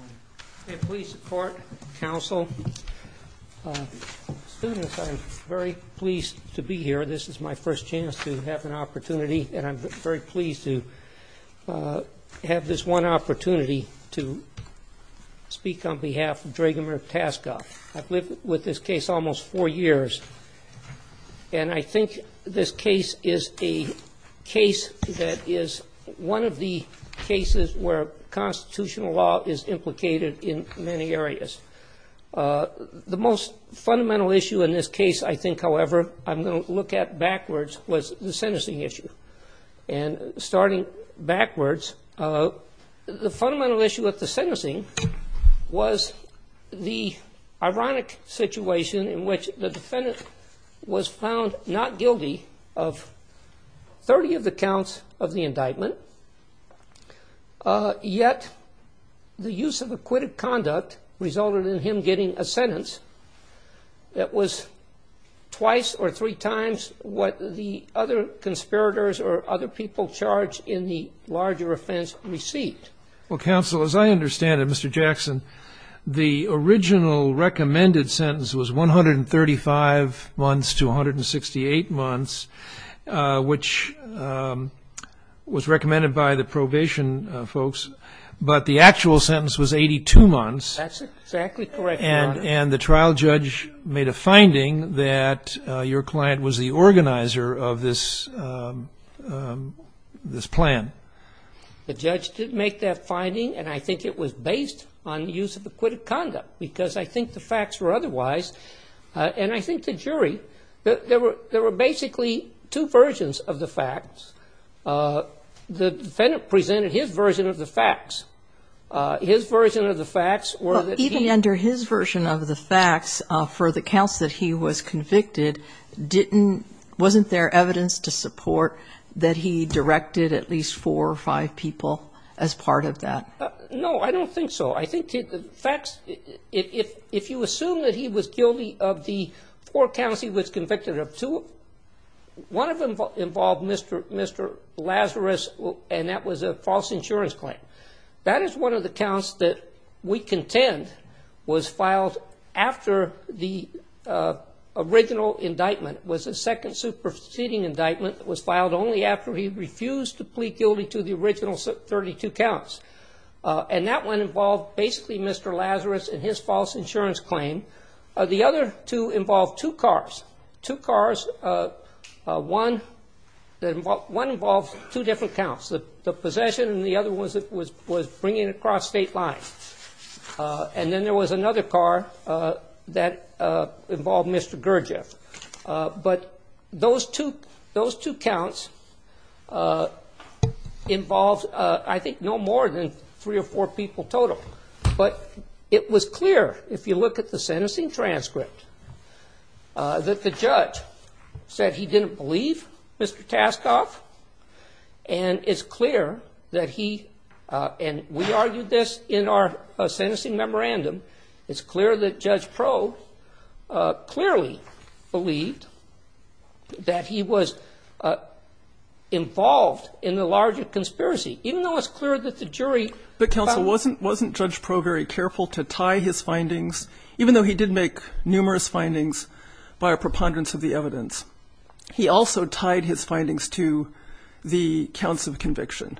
I'm very pleased to be here. This is my first chance to have an opportunity and I'm very pleased to have this one opportunity to speak on behalf of Dragomir Taskov. I've lived with this case almost four years and I think this case is a case that is one of the cases where constitutional law is implicated in many areas. The most fundamental issue in this case, I think, however, I'm going to look at backwards, was the sentencing issue. And starting backwards, the fundamental issue with the sentencing was the ironic situation in which the defendant was found not guilty of 30 of the counts of the indictment, yet the use of acquitted conduct resulted in him getting a sentence that was twice or three times what the other conspirators or other people charged in the larger offense received. Well, counsel, as I understand it, Mr. Jackson, the original recommended sentence was 135 months to 168 months, which was recommended by the probation folks, but the actual sentence was 82 months. That's exactly correct, Your Honor. And the trial judge made a finding that your client was the organizer of this plan. The judge didn't make that finding and I think it was based on the use of acquitted conduct because I think the facts were otherwise. And I think the jury, there were basically two versions of the facts. The defendant presented his version of the facts. His version of the facts were that he Even under his version of the facts, for the counts that he was convicted, wasn't there evidence to support that he I think the facts, if you assume that he was guilty of the four counts he was convicted of, one of them involved Mr. Lazarus and that was a false insurance claim. That is one of the counts that we contend was filed after the original indictment. It was a second superseding indictment that was filed only after he refused to plead guilty to the original 32 counts. And that one involved basically Mr. Lazarus and his false insurance claim. The other two involved two cars. Two cars, one involved two different counts, the possession and the other was bringing it across state lines. And then there was another car that involved Mr. Gurdjieff. But those two counts involved, I think, no more than three or four people total. But it was clear, if you look at the sentencing transcript, that the judge said he didn't believe Mr. Taskoff and it's clear that Judge Proe clearly believed that he was involved in the larger conspiracy. Even though it's clear that the jury But counsel, wasn't Judge Proe very careful to tie his findings, even though he did make numerous findings by a preponderance of the evidence? He also tied his findings to the counts of conviction.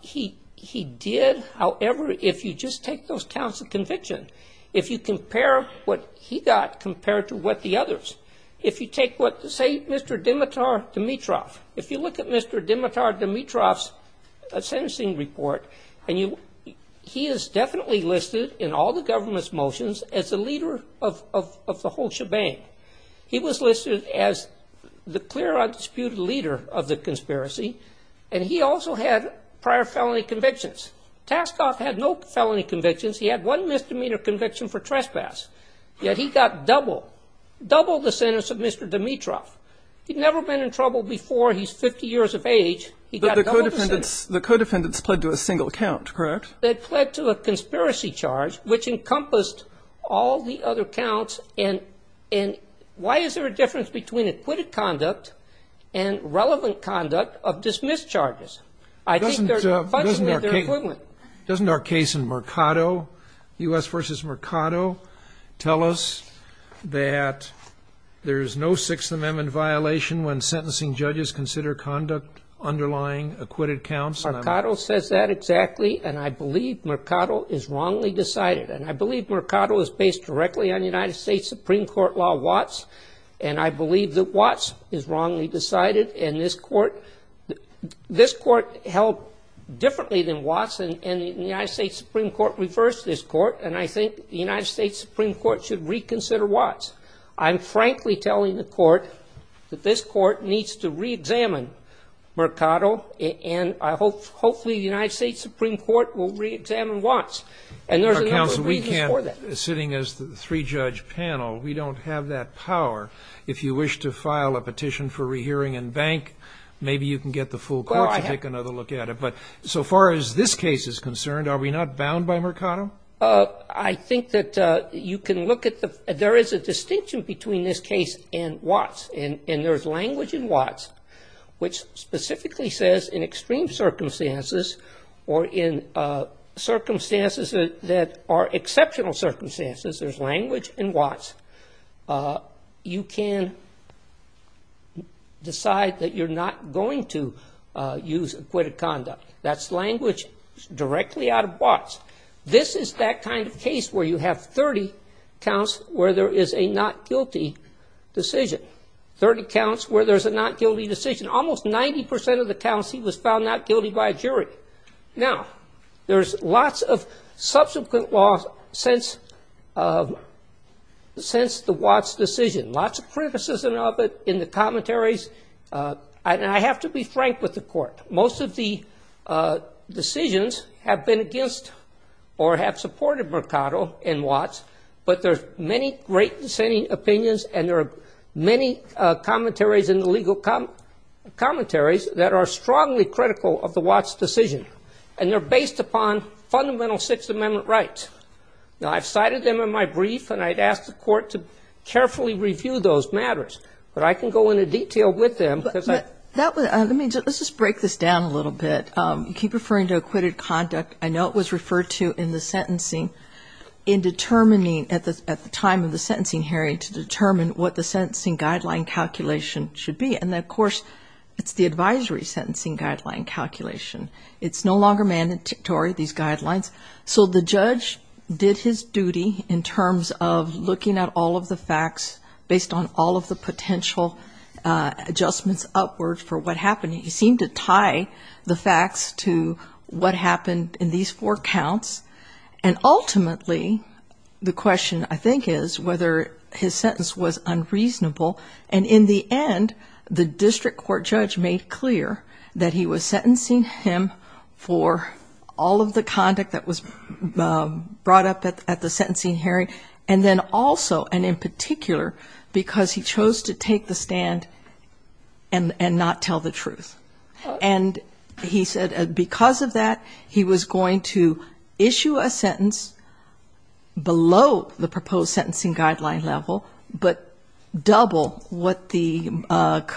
He did. However, if you just take those counts of conviction, if you compare what he got compared to what the others, if you take what, say, Mr. Dimitar Dimitrov, if you look at Mr. Dimitar Dimitrov's sentencing report, he is definitely listed in all the prior felony convictions. Taskoff had no felony convictions. He had one misdemeanor conviction for trespass. Yet he got double, double the sentence of Mr. Dimitrov. He'd never been in trouble before. He's 50 years of age. He got double the sentence. But the co-defendants, the co-defendants pled to a single count, correct? They pled to a conspiracy charge, which encompassed all the other counts. And why is there a difference between acquitted conduct and I think they're fundamentally equivalent. Doesn't our case in Mercado, U.S. v. Mercado, tell us that there's no Sixth Amendment violation when sentencing judges consider conduct underlying acquitted counts? Mercado says that exactly, and I believe Mercado is wrongly decided. And I believe Mercado is based directly on United States Supreme Court law, and I believe that Watts is wrongly decided. And this court, this court held differently than Watts, and the United States Supreme Court reversed this court, and I think the United States Supreme Court should reconsider Watts. I'm frankly telling the court that this court needs to re-examine Mercado, and hopefully the United States Supreme Court will re-examine Watts. And there's a number of reasons for that. Counsel, we can't, sitting as the three-judge panel, we don't have that power. If you wish to file a petition for rehearing in bank, maybe you can get the full court to take another look at it. But so far as this case is concerned, are we not bound by Mercado? I think that you can look at the, there is a distinction between this case and Watts. And there's language in Watts which specifically says in extreme circumstances or in circumstances that are exceptional circumstances, there's language in Watts, you can decide that you're not going to use acquitted conduct. That's language directly out of Watts. This is that kind of case where you have 30 counts where there is a not guilty decision. 30 counts where there's a not guilty decision. Almost 90% of the counts he was found not guilty by a jury. Now, there's lots of subsequent laws since the Watts decision. Lots of criticism of it in the commentaries, and I have to be frank with the court. Most of the decisions have been against or have supported Mercado in Watts. But there's many great dissenting opinions and there are many commentaries in the legal commentaries that are strongly critical of the Watts decision. And they're based upon fundamental Sixth Amendment rights. Now, I've cited them in my brief and I'd ask the court to carefully review those matters. But I can go into detail with them. Let's just break this down a little bit. You keep referring to acquitted conduct. I know it was referred to in the sentencing in determining at the time of the sentencing hearing to determine what the sentencing guideline calculation should be. And of course, it's the advisory sentencing guideline calculation. It's no longer mandatory, these guidelines. So the judge did his duty in terms of looking at all of the facts based on all of the potential adjustments upward for what happened. He seemed to tie the facts to what happened in these four counts. And ultimately, the question, I think, is whether his sentence was unreasonable. And in the end, the district court judge made clear that he was sentencing him for all of the conduct that was brought up at the sentencing hearing. And then also, and in particular, because he chose to take the stand and not tell the truth. And he said because of that, he was going to issue a sentence below the proposed sentencing guideline level, but double what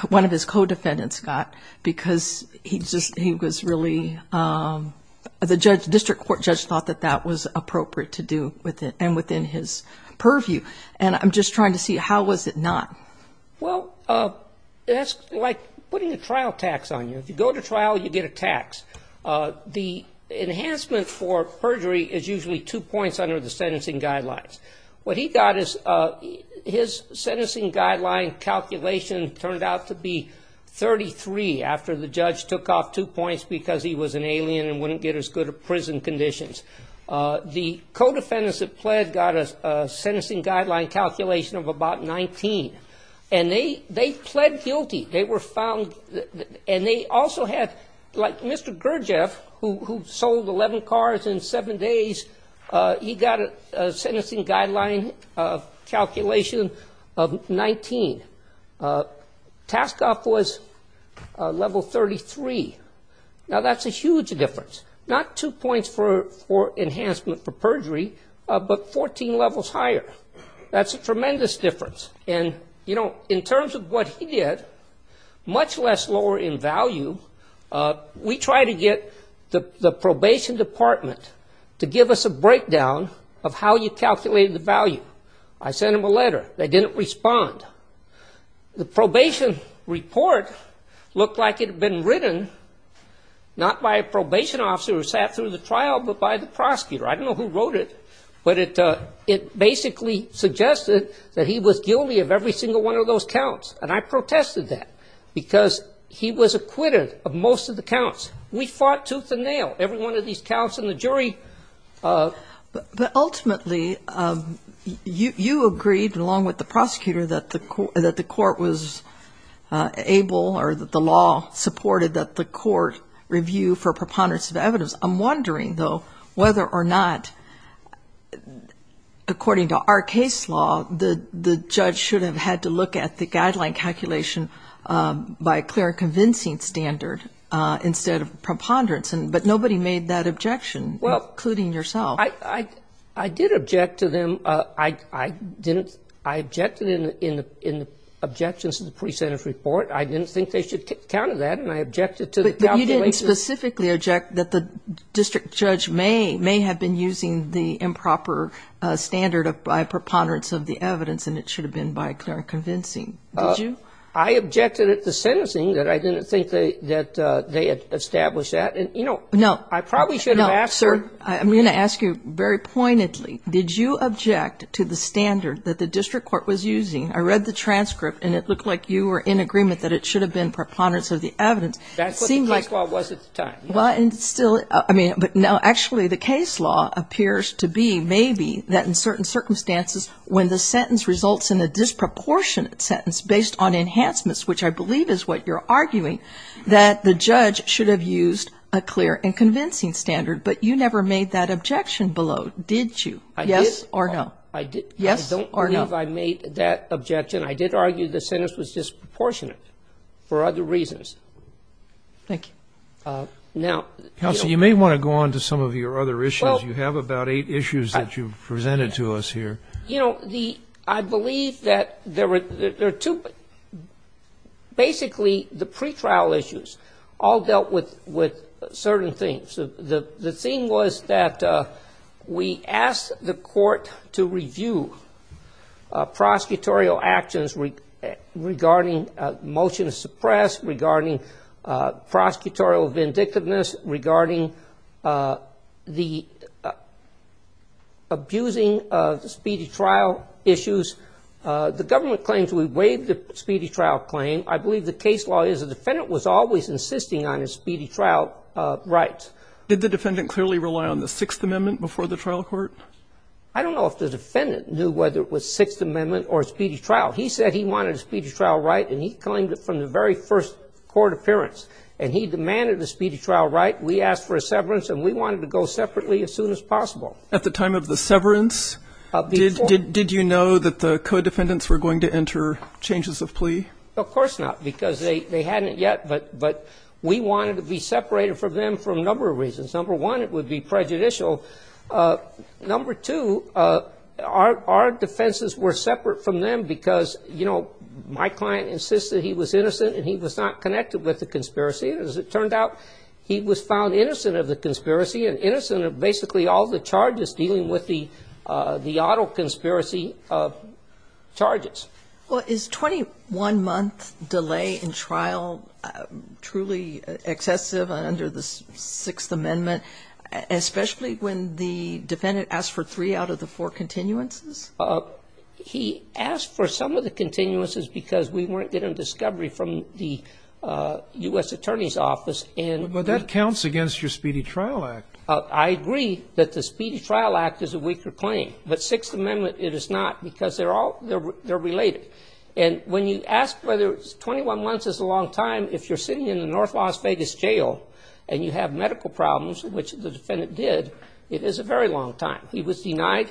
one of his co-defendants got because he was really, the district court judge thought that that was appropriate to do with it and within his purview. And I'm just trying to see, how was it not? Well, that's like putting a trial tax on you. If you go to trial, you get a tax. The enhancement for perjury is usually two points under the sentencing guidelines. What he got is his sentencing guideline calculation turned out to be 33 after the judge took off two points because he was an alien and wouldn't get as good a prison conditions. The co-defendants that pled got a sentencing guideline calculation of about 19. And they pled guilty. They were found, and they also had, like Mr. Gurdjieff, who sold 11 cars in 7 days, he got a sentencing guideline calculation of 19. Tasked off was level 33. Now, that's a huge difference. Not two points for enhancement for perjury, but 14 levels higher. That's a tremendous difference. And, you know, in terms of what he did, much less lower in value, we tried to get the probation department to give us a breakdown of how you calculated the value. I sent them a letter. They didn't respond. The probation report looked like it had been written not by a probation officer who sat through the trial, but by the prosecutor. I don't know who wrote it, but it basically suggested that he was guilty of every single one of those counts. And I protested that because he was acquitted of most of the counts. We fought tooth and nail. Every one of these counts in the jury. But ultimately, you agreed, along with the prosecutor, that the court was able or that the law supported that the court review for preponderance of evidence. I'm wondering, though, whether or not, according to our case law, the judge should have had to look at the guideline calculation by a clear and convincing standard instead of preponderance. But nobody made that objection, including yourself. Well, I did object to them. I objected in the objections to the pre-sentence report. I didn't think they should counter that, and I objected to the calculation. You didn't specifically object that the district judge may have been using the improper standard by preponderance of the evidence, and it should have been by a clear and convincing. Did you? I objected at the sentencing, that I didn't think that they had established that. And, you know, I probably should have asked her. No, sir, I'm going to ask you very pointedly. Did you object to the standard that the district court was using? I read the transcript, and it looked like you were in agreement that it should have been preponderance of the evidence. That's what the case law was at the time. Well, and still, I mean, but no, actually, the case law appears to be maybe that in certain circumstances, when the sentence results in a disproportionate sentence based on enhancements, which I believe is what you're arguing, that the judge should have used a clear and convincing standard. But you never made that objection below, did you? Yes or no? I don't believe I made that objection. I did argue the sentence was disproportionate for other reasons. Thank you. Now, you know. Counsel, you may want to go on to some of your other issues. You have about eight issues that you've presented to us here. You know, the, I believe that there are two, basically, the pretrial issues all dealt with certain things. The thing was that we asked the court to review prosecutorial actions regarding motion to suppress, regarding prosecutorial vindictiveness, regarding the abusing speedy trial issues. The government claims we waived the speedy trial claim. I believe the case law is the defendant was always insisting on his speedy trial rights. Did the defendant clearly rely on the Sixth Amendment before the trial court? I don't know if the defendant knew whether it was Sixth Amendment or speedy trial. He said he wanted a speedy trial right, and he claimed it from the very first court appearance. And he demanded a speedy trial right. We asked for a severance, and we wanted to go separately as soon as possible. At the time of the severance, did you know that the co-defendants were going to enter changes of plea? Of course not, because they hadn't yet, but we wanted to be separated from them for a number of reasons. Number one, it would be prejudicial. Number two, our defenses were separate from them because, you know, my client insisted he was innocent and he was not connected with the conspiracy. As it turned out, he was found innocent of the conspiracy and innocent of basically all the charges dealing with the auto conspiracy charges. Well, is 21-month delay in trial truly excessive under the Sixth Amendment, especially when the defendant asked for three out of the four continuances? He asked for some of the continuances because we weren't getting a discovery from the U.S. Attorney's Office. But that counts against your Speedy Trial Act. I agree that the Speedy Trial Act is a weaker claim. But Sixth Amendment, it is not because they're related. And when you ask whether 21 months is a long time, if you're sitting in the North Las Vegas jail and you have medical problems, which the defendant did, it is a very long time. He was denied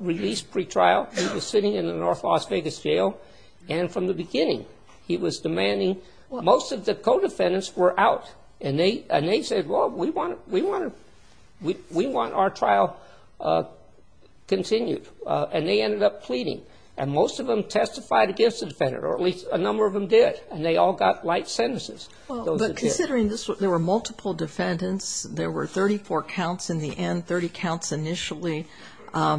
release pretrial. He was sitting in the North Las Vegas jail. And from the beginning, he was demanding most of the co-defendants were out. And they said, well, we want our trial continued. And they ended up pleading. And most of them testified against the defendant, or at least a number of them did. And they all got light sentences. But considering there were multiple defendants, there were 34 counts in the end, 30 counts initially, a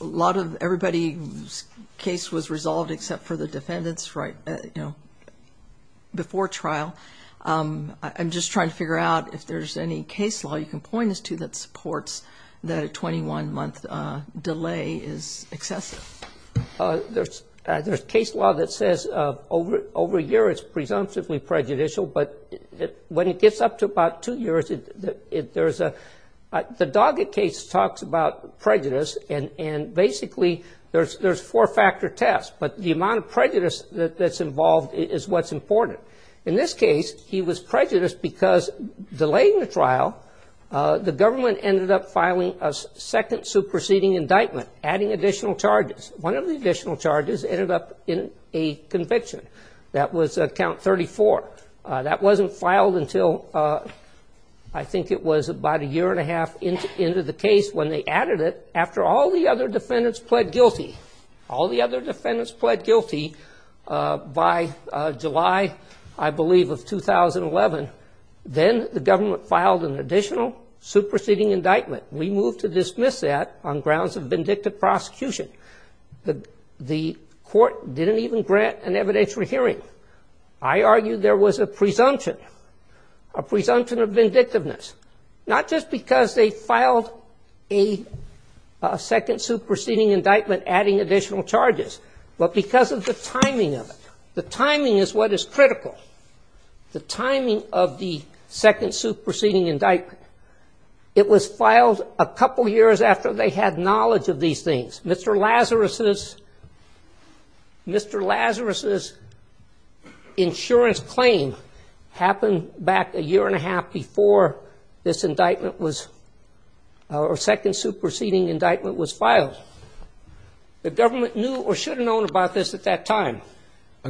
lot of everybody's case was resolved except for the defendants before trial. I'm just trying to figure out if there's any case law you can point us to that supports that a 21-month delay is excessive. There's case law that says over a year it's presumptively prejudicial. But when it gets up to about two years, there's a – the Doggett case talks about prejudice. And basically there's four-factor tests. But the amount of prejudice that's involved is what's important. In this case, he was prejudiced because delaying the trial, the government ended up filing a second superseding indictment, adding additional charges. One of the additional charges ended up in a conviction. That was count 34. That wasn't filed until I think it was about a year and a half into the case when they added it. After all the other defendants pled guilty, all the other defendants pled guilty by July, I believe, of 2011, then the government filed an additional superseding indictment. We moved to dismiss that on grounds of vindictive prosecution. The court didn't even grant an evidentiary hearing. I argue there was a presumption, a presumption of vindictiveness, not just because they filed a second superseding indictment adding additional charges, but because of the timing of it. The timing is what is critical. The timing of the second superseding indictment, it was filed a couple years after they had knowledge of these things. Mr. Lazarus's insurance claim happened back a year and a half before this indictment was, or second superseding indictment was filed. The government knew or should have known about this at that time.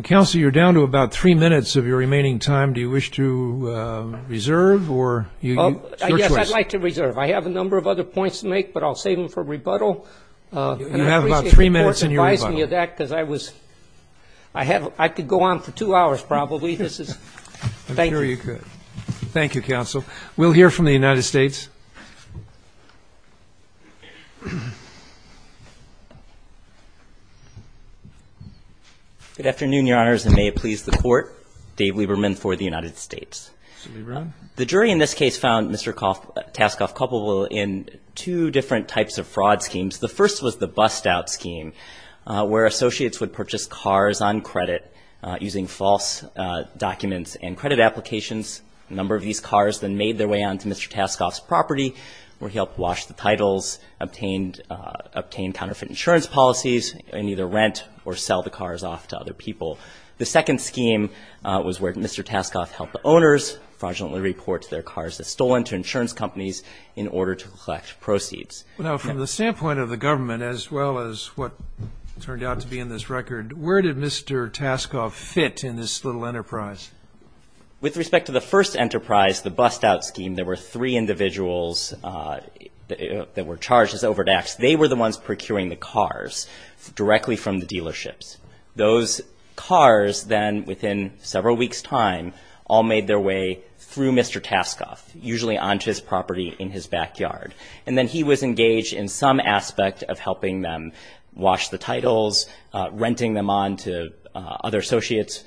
Counsel, you're down to about three minutes of your remaining time. Do you wish to reserve? Yes, I'd like to reserve. I have a number of other points to make, but I'll save them for rebuttal. You have about three minutes in your rebuttal. I could go on for two hours probably. Thank you. I'm sure you could. Thank you, counsel. We'll hear from the United States. Good afternoon, Your Honors, and may it please the Court. Dave Lieberman for the United States. Mr. Lieberman. The jury in this case found Mr. Taskoff culpable in two different types of fraud schemes. The first was the bust-out scheme where associates would purchase cars on credit using false documents and credit applications. A number of these cars then made their way onto Mr. Taskoff's property, where he helped wash the titles, obtained counterfeit insurance policies, and either rent or sell the cars off to other people. The second scheme was where Mr. Taskoff helped the owners fraudulently report their cars as stolen to insurance companies in order to collect proceeds. Now, from the standpoint of the government, as well as what turned out to be in this record, where did Mr. Taskoff fit in this little enterprise? With respect to the first enterprise, the bust-out scheme, there were three individuals that were charged as over-daxed. They were the ones procuring the cars directly from the dealerships. Those cars then, within several weeks' time, all made their way through Mr. Taskoff, usually onto his property in his backyard. And then he was engaged in some aspect of helping them wash the titles, renting them on to other associates,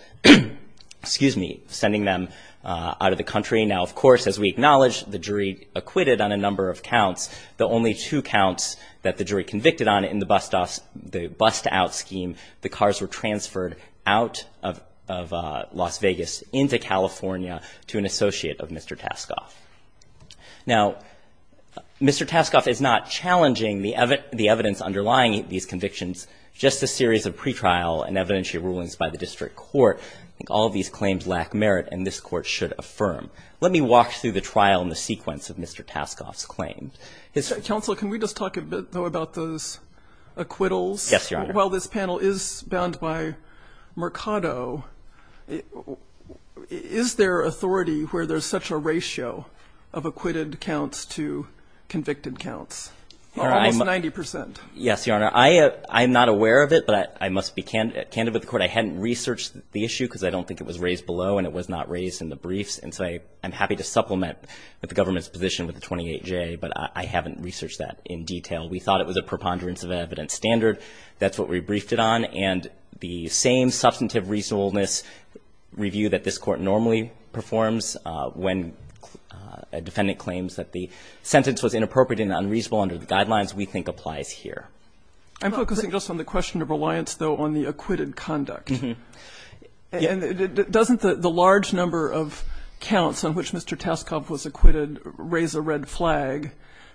sending them out of the country. Now, of course, as we acknowledge, the jury acquitted on a number of counts. The only two counts that the jury convicted on in the bust-out scheme, the cars were transferred out of Las Vegas into California to an associate of Mr. Taskoff. Now, Mr. Taskoff is not challenging the evidence underlying these convictions, just a series of pretrial and evidentiary rulings by the district court. I think all of these claims lack merit, and this Court should affirm. Let me walk through the trial and the sequence of Mr. Taskoff's claims. Counsel, can we just talk a bit, though, about those acquittals? Yes, Your Honor. While this panel is bound by Mercado, is there authority where there's such a ratio of acquitted counts to convicted counts? Almost 90 percent. Yes, Your Honor. I'm not aware of it, but I must be candid with the Court. I hadn't researched the issue because I don't think it was raised below, and it was not raised in the briefs. And so I'm happy to supplement the government's position with the 28J, but I haven't researched that in detail. We thought it was a preponderance of evidence standard. That's what we briefed it on. And the same substantive reasonableness review that this Court normally performs when a defendant claims that the sentence was inappropriate and unreasonable under the guidelines we think applies here. I'm focusing just on the question of reliance, though, on the acquitted conduct. And doesn't the large number of counts on which Mr. Taskoff was acquitted raise a red flag,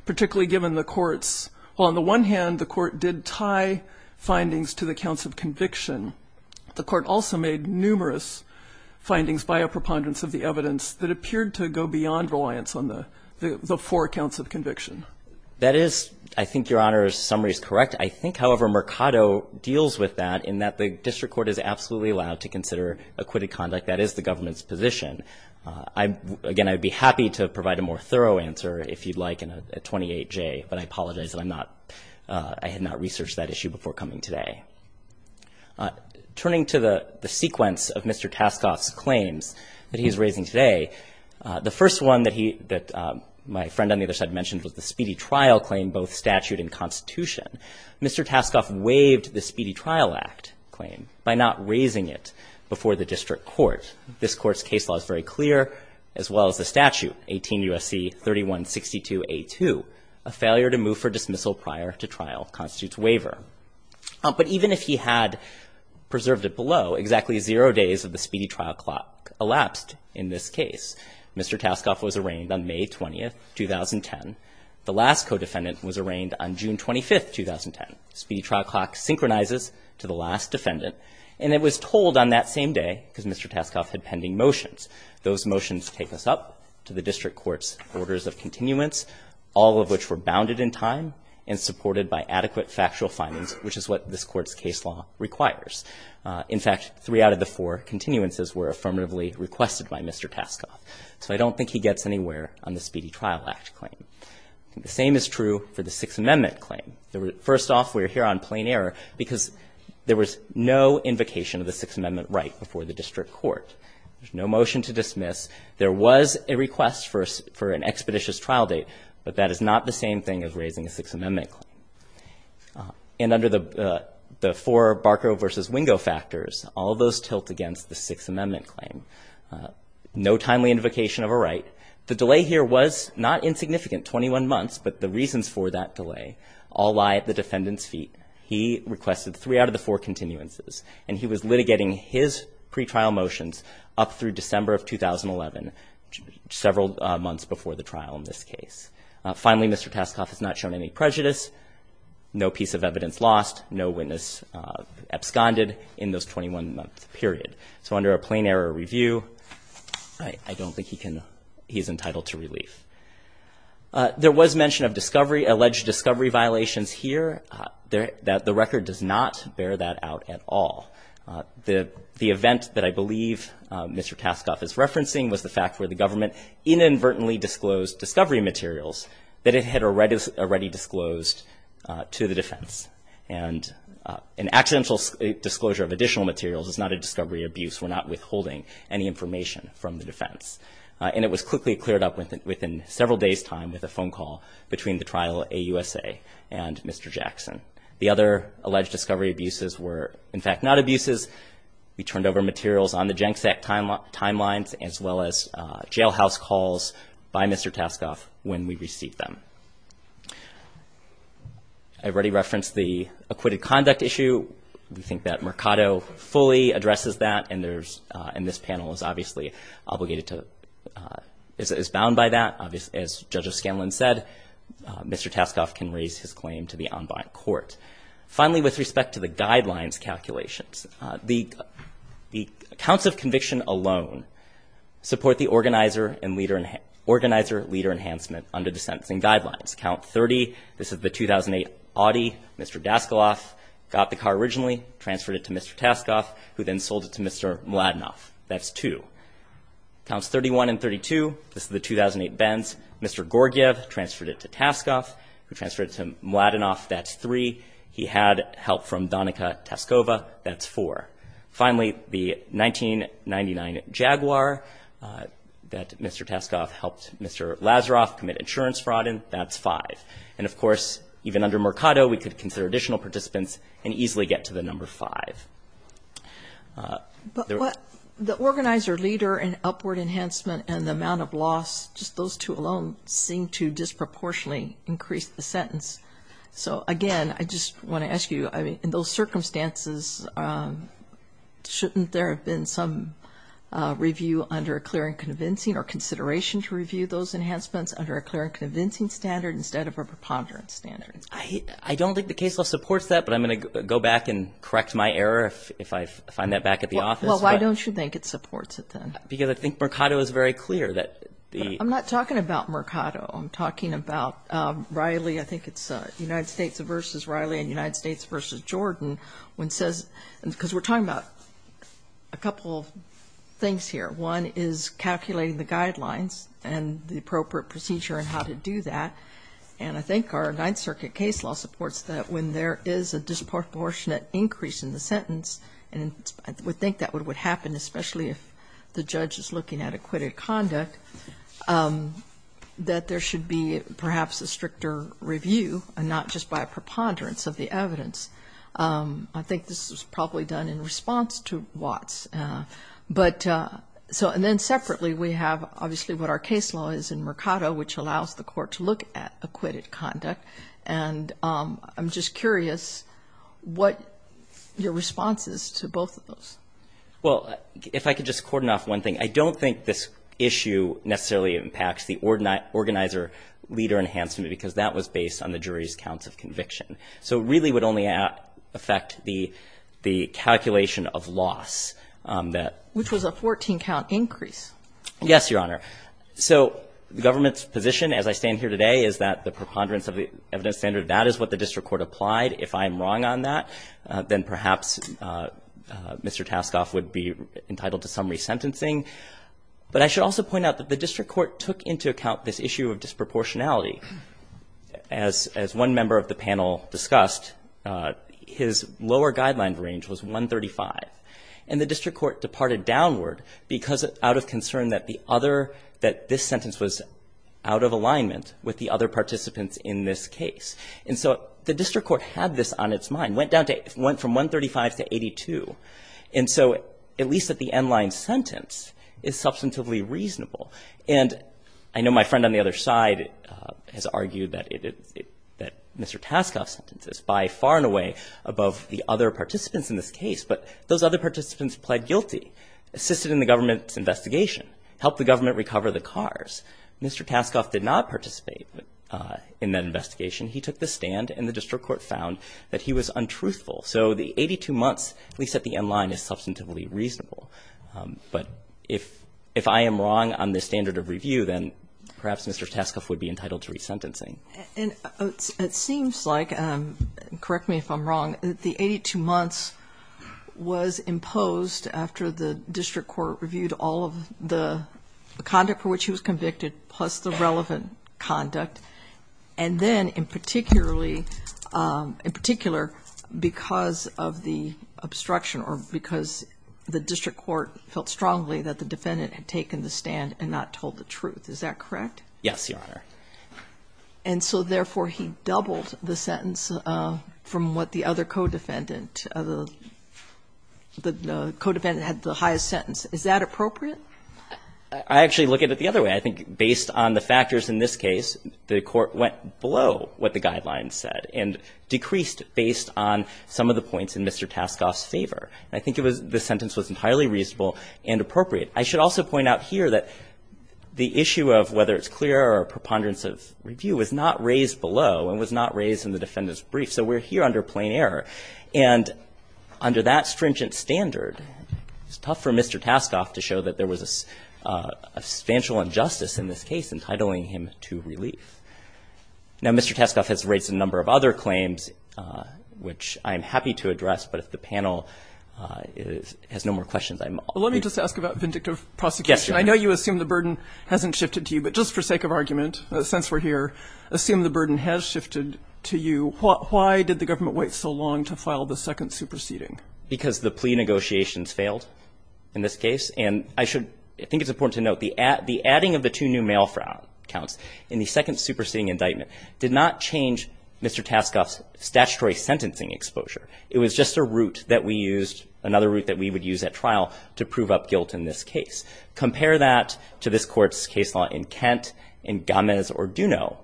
particularly given the Court's – well, on the one hand, the Court did tie findings to the counts of conviction. The Court also made numerous findings by a preponderance of the evidence that appeared to go beyond reliance on the four counts of conviction. That is, I think, Your Honor's summary is correct. I think, however, Mercado deals with that in that the district court is absolutely allowed to consider acquitted conduct. That is the government's position. Again, I'd be happy to provide a more thorough answer, if you'd like, in a 28J, but I apologize that I'm not – I had not researched that issue before coming today. Turning to the sequence of Mr. Taskoff's claims that he is raising today, the first one that he – that my friend on the other side mentioned was the speedy trial claim, both statute and constitution. Mr. Taskoff waived the Speedy Trial Act claim by not raising it before the district court. This Court's case law is very clear, as well as the statute, 18 U.S.C. 3162a2, a failure to move for dismissal prior to trial constitutes waiver. But even if he had preserved it below, exactly zero days of the speedy trial clock elapsed in this case. Mr. Taskoff was arraigned on May 20, 2010. The last co-defendant was arraigned on June 25, 2010. Speedy trial clock synchronizes to the last defendant, and it was told on that same day, because Mr. Taskoff had pending motions, those motions take us up to the district court's orders of continuance, all of which were bounded in time and supported by adequate factual findings, which is what this Court's case law requires. In fact, three out of the four continuances were affirmatively requested by Mr. Taskoff. So I don't think he gets anywhere on the Speedy Trial Act claim. The same is true for the Sixth Amendment claim. First off, we're here on plain error because there was no invocation of the Sixth There's no motion to dismiss. There was a request for an expeditious trial date, but that is not the same thing as raising a Sixth Amendment claim. And under the four Barco v. Wingo factors, all of those tilt against the Sixth Amendment claim. No timely invocation of a right. The delay here was not insignificant, 21 months, but the reasons for that delay all lie at the defendant's feet. He requested three out of the four continuances, and he was litigating his pretrial motions up through December of 2011, several months before the trial in this case. Finally, Mr. Taskoff has not shown any prejudice, no piece of evidence lost, no witness absconded in those 21-month period. So under a plain error review, I don't think he's entitled to relief. There was mention of alleged discovery violations here. The record does not bear that out at all. The event that I believe Mr. Taskoff is referencing was the fact where the government inadvertently disclosed discovery materials that it had already disclosed to the defense. And an accidental disclosure of additional materials is not a discovery abuse. We're not withholding any information from the defense. And it was quickly cleared up within several days' time with a phone call between the trial at AUSA and Mr. Jackson. The other alleged discovery abuses were, in fact, not abuses. We turned over materials on the Jenks Act timelines, as well as jailhouse calls by Mr. Taskoff when we received them. I already referenced the acquitted conduct issue. We think that Mercado fully addresses that, and this panel is obviously bound by that. As Judge O'Scanlan said, Mr. Taskoff can raise his claim to the ombud court. Finally, with respect to the guidelines calculations, the counts of conviction alone support the organizer-leader enhancement under the sentencing guidelines. Count 30, this is the 2008 Audi. Mr. Daskaloff got the car originally, transferred it to Mr. Taskoff, who then sold it to Mr. Mladenov. That's two. Counts 31 and 32, this is the 2008 Benz. Mr. Gorgiev transferred it to Taskoff, who transferred it to Mladenov. That's three. He had help from Danica Taskova. That's four. Finally, the 1999 Jaguar that Mr. Taskoff helped Mr. Lazaroff commit insurance fraud in, that's five. And, of course, even under Mercado, we could consider additional participants and easily get to the number five. But the organizer-leader and upward enhancement and the amount of loss, just those two alone, seem to disproportionately increase the sentence. So, again, I just want to ask you, in those circumstances, shouldn't there have been some review under a clear and convincing or consideration to review those enhancements under a clear and convincing standard instead of a preponderance standard? I don't think the case law supports that, but I'm going to go back and correct my error if I find that back at the office. Well, why don't you think it supports it then? Because I think Mercado is very clear that the- I'm not talking about Mercado. I'm talking about Riley. I think it's United States versus Riley and United States versus Jordan. Because we're talking about a couple of things here. One is calculating the guidelines and the appropriate procedure on how to do that. And I think our Ninth Circuit case law supports that when there is a disproportionate increase in the sentence, and I would think that what would happen, especially if the judge is looking at acquitted conduct, that there should be perhaps a stricter review and not just by a preponderance of the evidence. I think this was probably done in response to Watts. But so and then separately we have obviously what our case law is in Mercado, which allows the court to look at acquitted conduct. And I'm just curious what your response is to both of those. Well, if I could just cordon off one thing. I don't think this issue necessarily impacts the organizer leader enhancement because that was based on the jury's counts of conviction. So it really would only affect the calculation of loss that- Which was a 14-count increase. Yes, Your Honor. So the government's position as I stand here today is that the preponderance of the evidence standard, that is what the district court applied. If I'm wrong on that, then perhaps Mr. Taskoff would be entitled to some resentencing. But I should also point out that the district court took into account this issue of disproportionality. As one member of the panel discussed, his lower guideline range was 135, and the district court departed downward out of concern that this sentence was out of alignment with the other participants in this case. And so the district court had this on its mind, went from 135 to 82. And so at least at the end line sentence, it's substantively reasonable. And I know my friend on the other side has argued that Mr. Taskoff's sentence is by far and away above the other participants in this case. But those other participants pled guilty, assisted in the government's investigation, helped the government recover the cars. Mr. Taskoff did not participate in that investigation. He took the stand, and the district court found that he was untruthful. So the 82 months, at least at the end line, is substantively reasonable. But if I am wrong on this standard of review, then perhaps Mr. Taskoff would be entitled to resentencing. And it seems like, correct me if I'm wrong, that the 82 months was imposed after the district court reviewed all of the conduct for which he was convicted, plus the relevant conduct, and then in particular because of the obstruction or because the district court felt strongly that the defendant had taken the stand and not told the truth. Is that correct? Yes, Your Honor. And so, therefore, he doubled the sentence from what the other co-defendant of the co-defendant had the highest sentence. Is that appropriate? I actually look at it the other way. I think based on the factors in this case, the court went below what the guidelines said and decreased based on some of the points in Mr. Taskoff's favor. And I think it was the sentence was entirely reasonable and appropriate. I should also point out here that the issue of whether it's clear or a preponderance of review was not raised below and was not raised in the defendant's brief, so we're here under plain error. And under that stringent standard, it's tough for Mr. Taskoff to show that there was a substantial injustice in this case entitling him to relief. Now, Mr. Taskoff has raised a number of other claims, which I am happy to address, but if the panel has no more questions, I'm all ears. Can I just ask about vindictive prosecution? I know you assume the burden hasn't shifted to you, but just for sake of argument, since we're here, assume the burden has shifted to you. Why did the government wait so long to file the second superseding? Because the plea negotiations failed in this case, and I should think it's important to note the adding of the two new mail counts in the second superseding indictment did not change Mr. Taskoff's statutory sentencing exposure. It was just a route that we used, another route that we would use at trial, to prove up guilt in this case. Compare that to this court's case law in Kent, in Gomez or Duneau,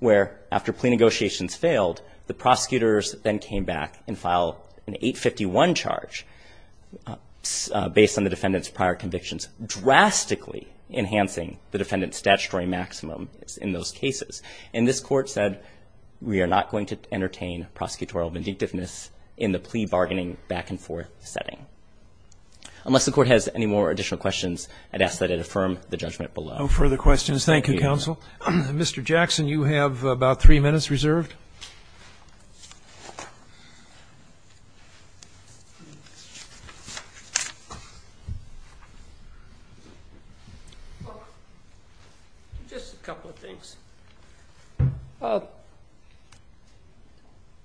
where after plea negotiations failed, the prosecutors then came back and filed an 851 charge based on the defendant's prior convictions, drastically enhancing the defendant's statutory maximum in those cases. And this court said, we are not going to entertain prosecutorial vindictiveness in the plea bargaining back-and-forth setting. Unless the Court has any more additional questions, I'd ask that it affirm the judgment below. No further questions. Thank you, counsel. Mr. Jackson, you have about three minutes reserved. Just a couple of things.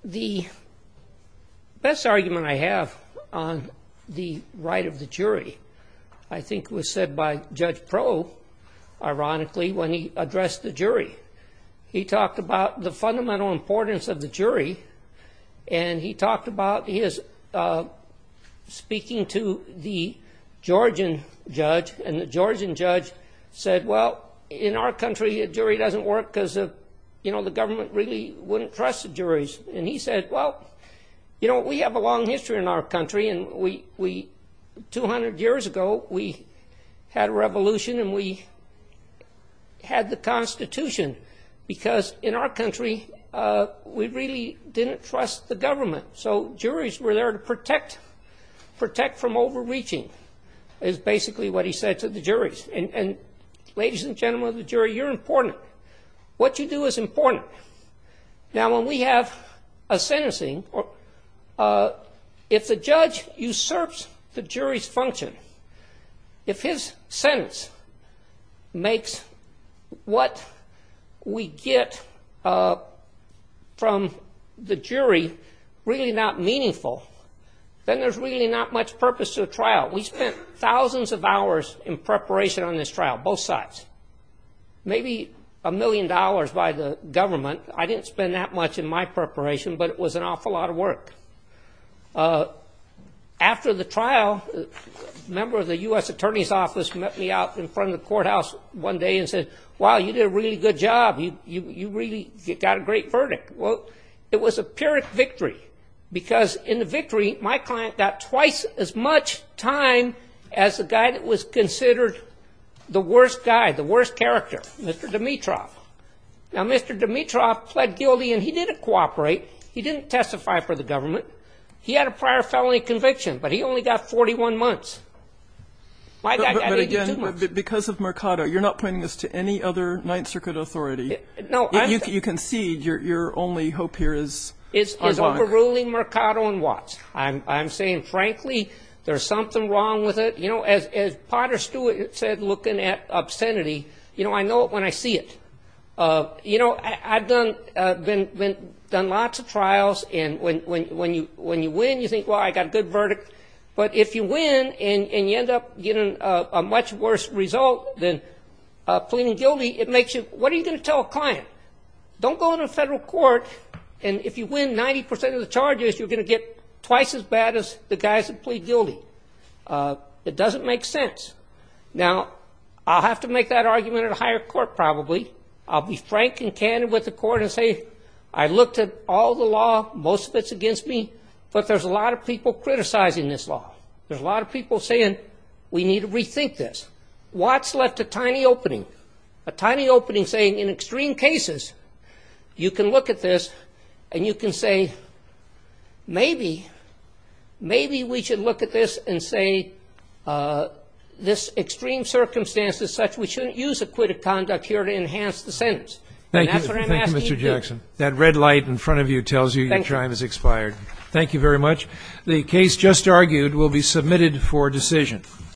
The best argument I have on the right of the jury, I think was said by Judge Proulx, ironically, when he addressed the jury. He talked about the fundamental importance of the jury, and he talked about his speaking to the Georgian judge, and the Georgian judge said, well, in our country, a jury doesn't work because the government really wouldn't trust the juries. And he said, well, you know, we have a long history in our country, and 200 years ago we had a revolution and we had the Constitution, because in our country we really didn't trust the government. So juries were there to protect from overreaching, is basically what he said to the juries. And, ladies and gentlemen of the jury, you're important. What you do is important. Now, when we have a sentencing, if the judge usurps the jury's function, if his sentence makes what we get from the jury really not meaningful, then there's really not much purpose to the trial. We spent thousands of hours in preparation on this trial, both sides, maybe a million dollars by the government. I didn't spend that much in my preparation, but it was an awful lot of work. After the trial, a member of the U.S. Attorney's Office met me out in front of the courthouse one day and said, wow, you did a really good job. You really got a great verdict. Well, it was a pyrrhic victory, because in the victory, my client got twice as much time as the guy that was considered the worst guy, the worst character, Mr. Dimitroff. Now, Mr. Dimitroff pled guilty, and he didn't cooperate. He didn't testify for the government. He had a prior felony conviction, but he only got 41 months. My guy got 82 months. But, again, because of Mercado, you're not pointing this to any other Ninth Circuit authority. No. You concede your only hope here is online. Is overruling Mercado and Watts. I'm saying, frankly, there's something wrong with it. You know, as Potter Stewart said, looking at obscenity, you know, I know it when I see it. You know, I've done lots of trials, and when you win, you think, well, I got a good verdict. But if you win and you end up getting a much worse result than pleading guilty, it makes you, what are you going to tell a client? Don't go to the federal court, and if you win 90 percent of the charges, you're going to get twice as bad as the guys that plead guilty. It doesn't make sense. Now, I'll have to make that argument at a higher court probably. I'll be frank and candid with the court and say I looked at all the law. Most of it's against me. But there's a lot of people criticizing this law. There's a lot of people saying we need to rethink this. Watts left a tiny opening. A tiny opening saying in extreme cases you can look at this and you can say maybe we should look at this and say this extreme circumstance is such we shouldn't use acquitted conduct here to enhance the sentence. And that's what I'm asking you to do. Thank you, Mr. Jackson. That red light in front of you tells you your time has expired. Thank you very much. The case just argued will be submitted for decision.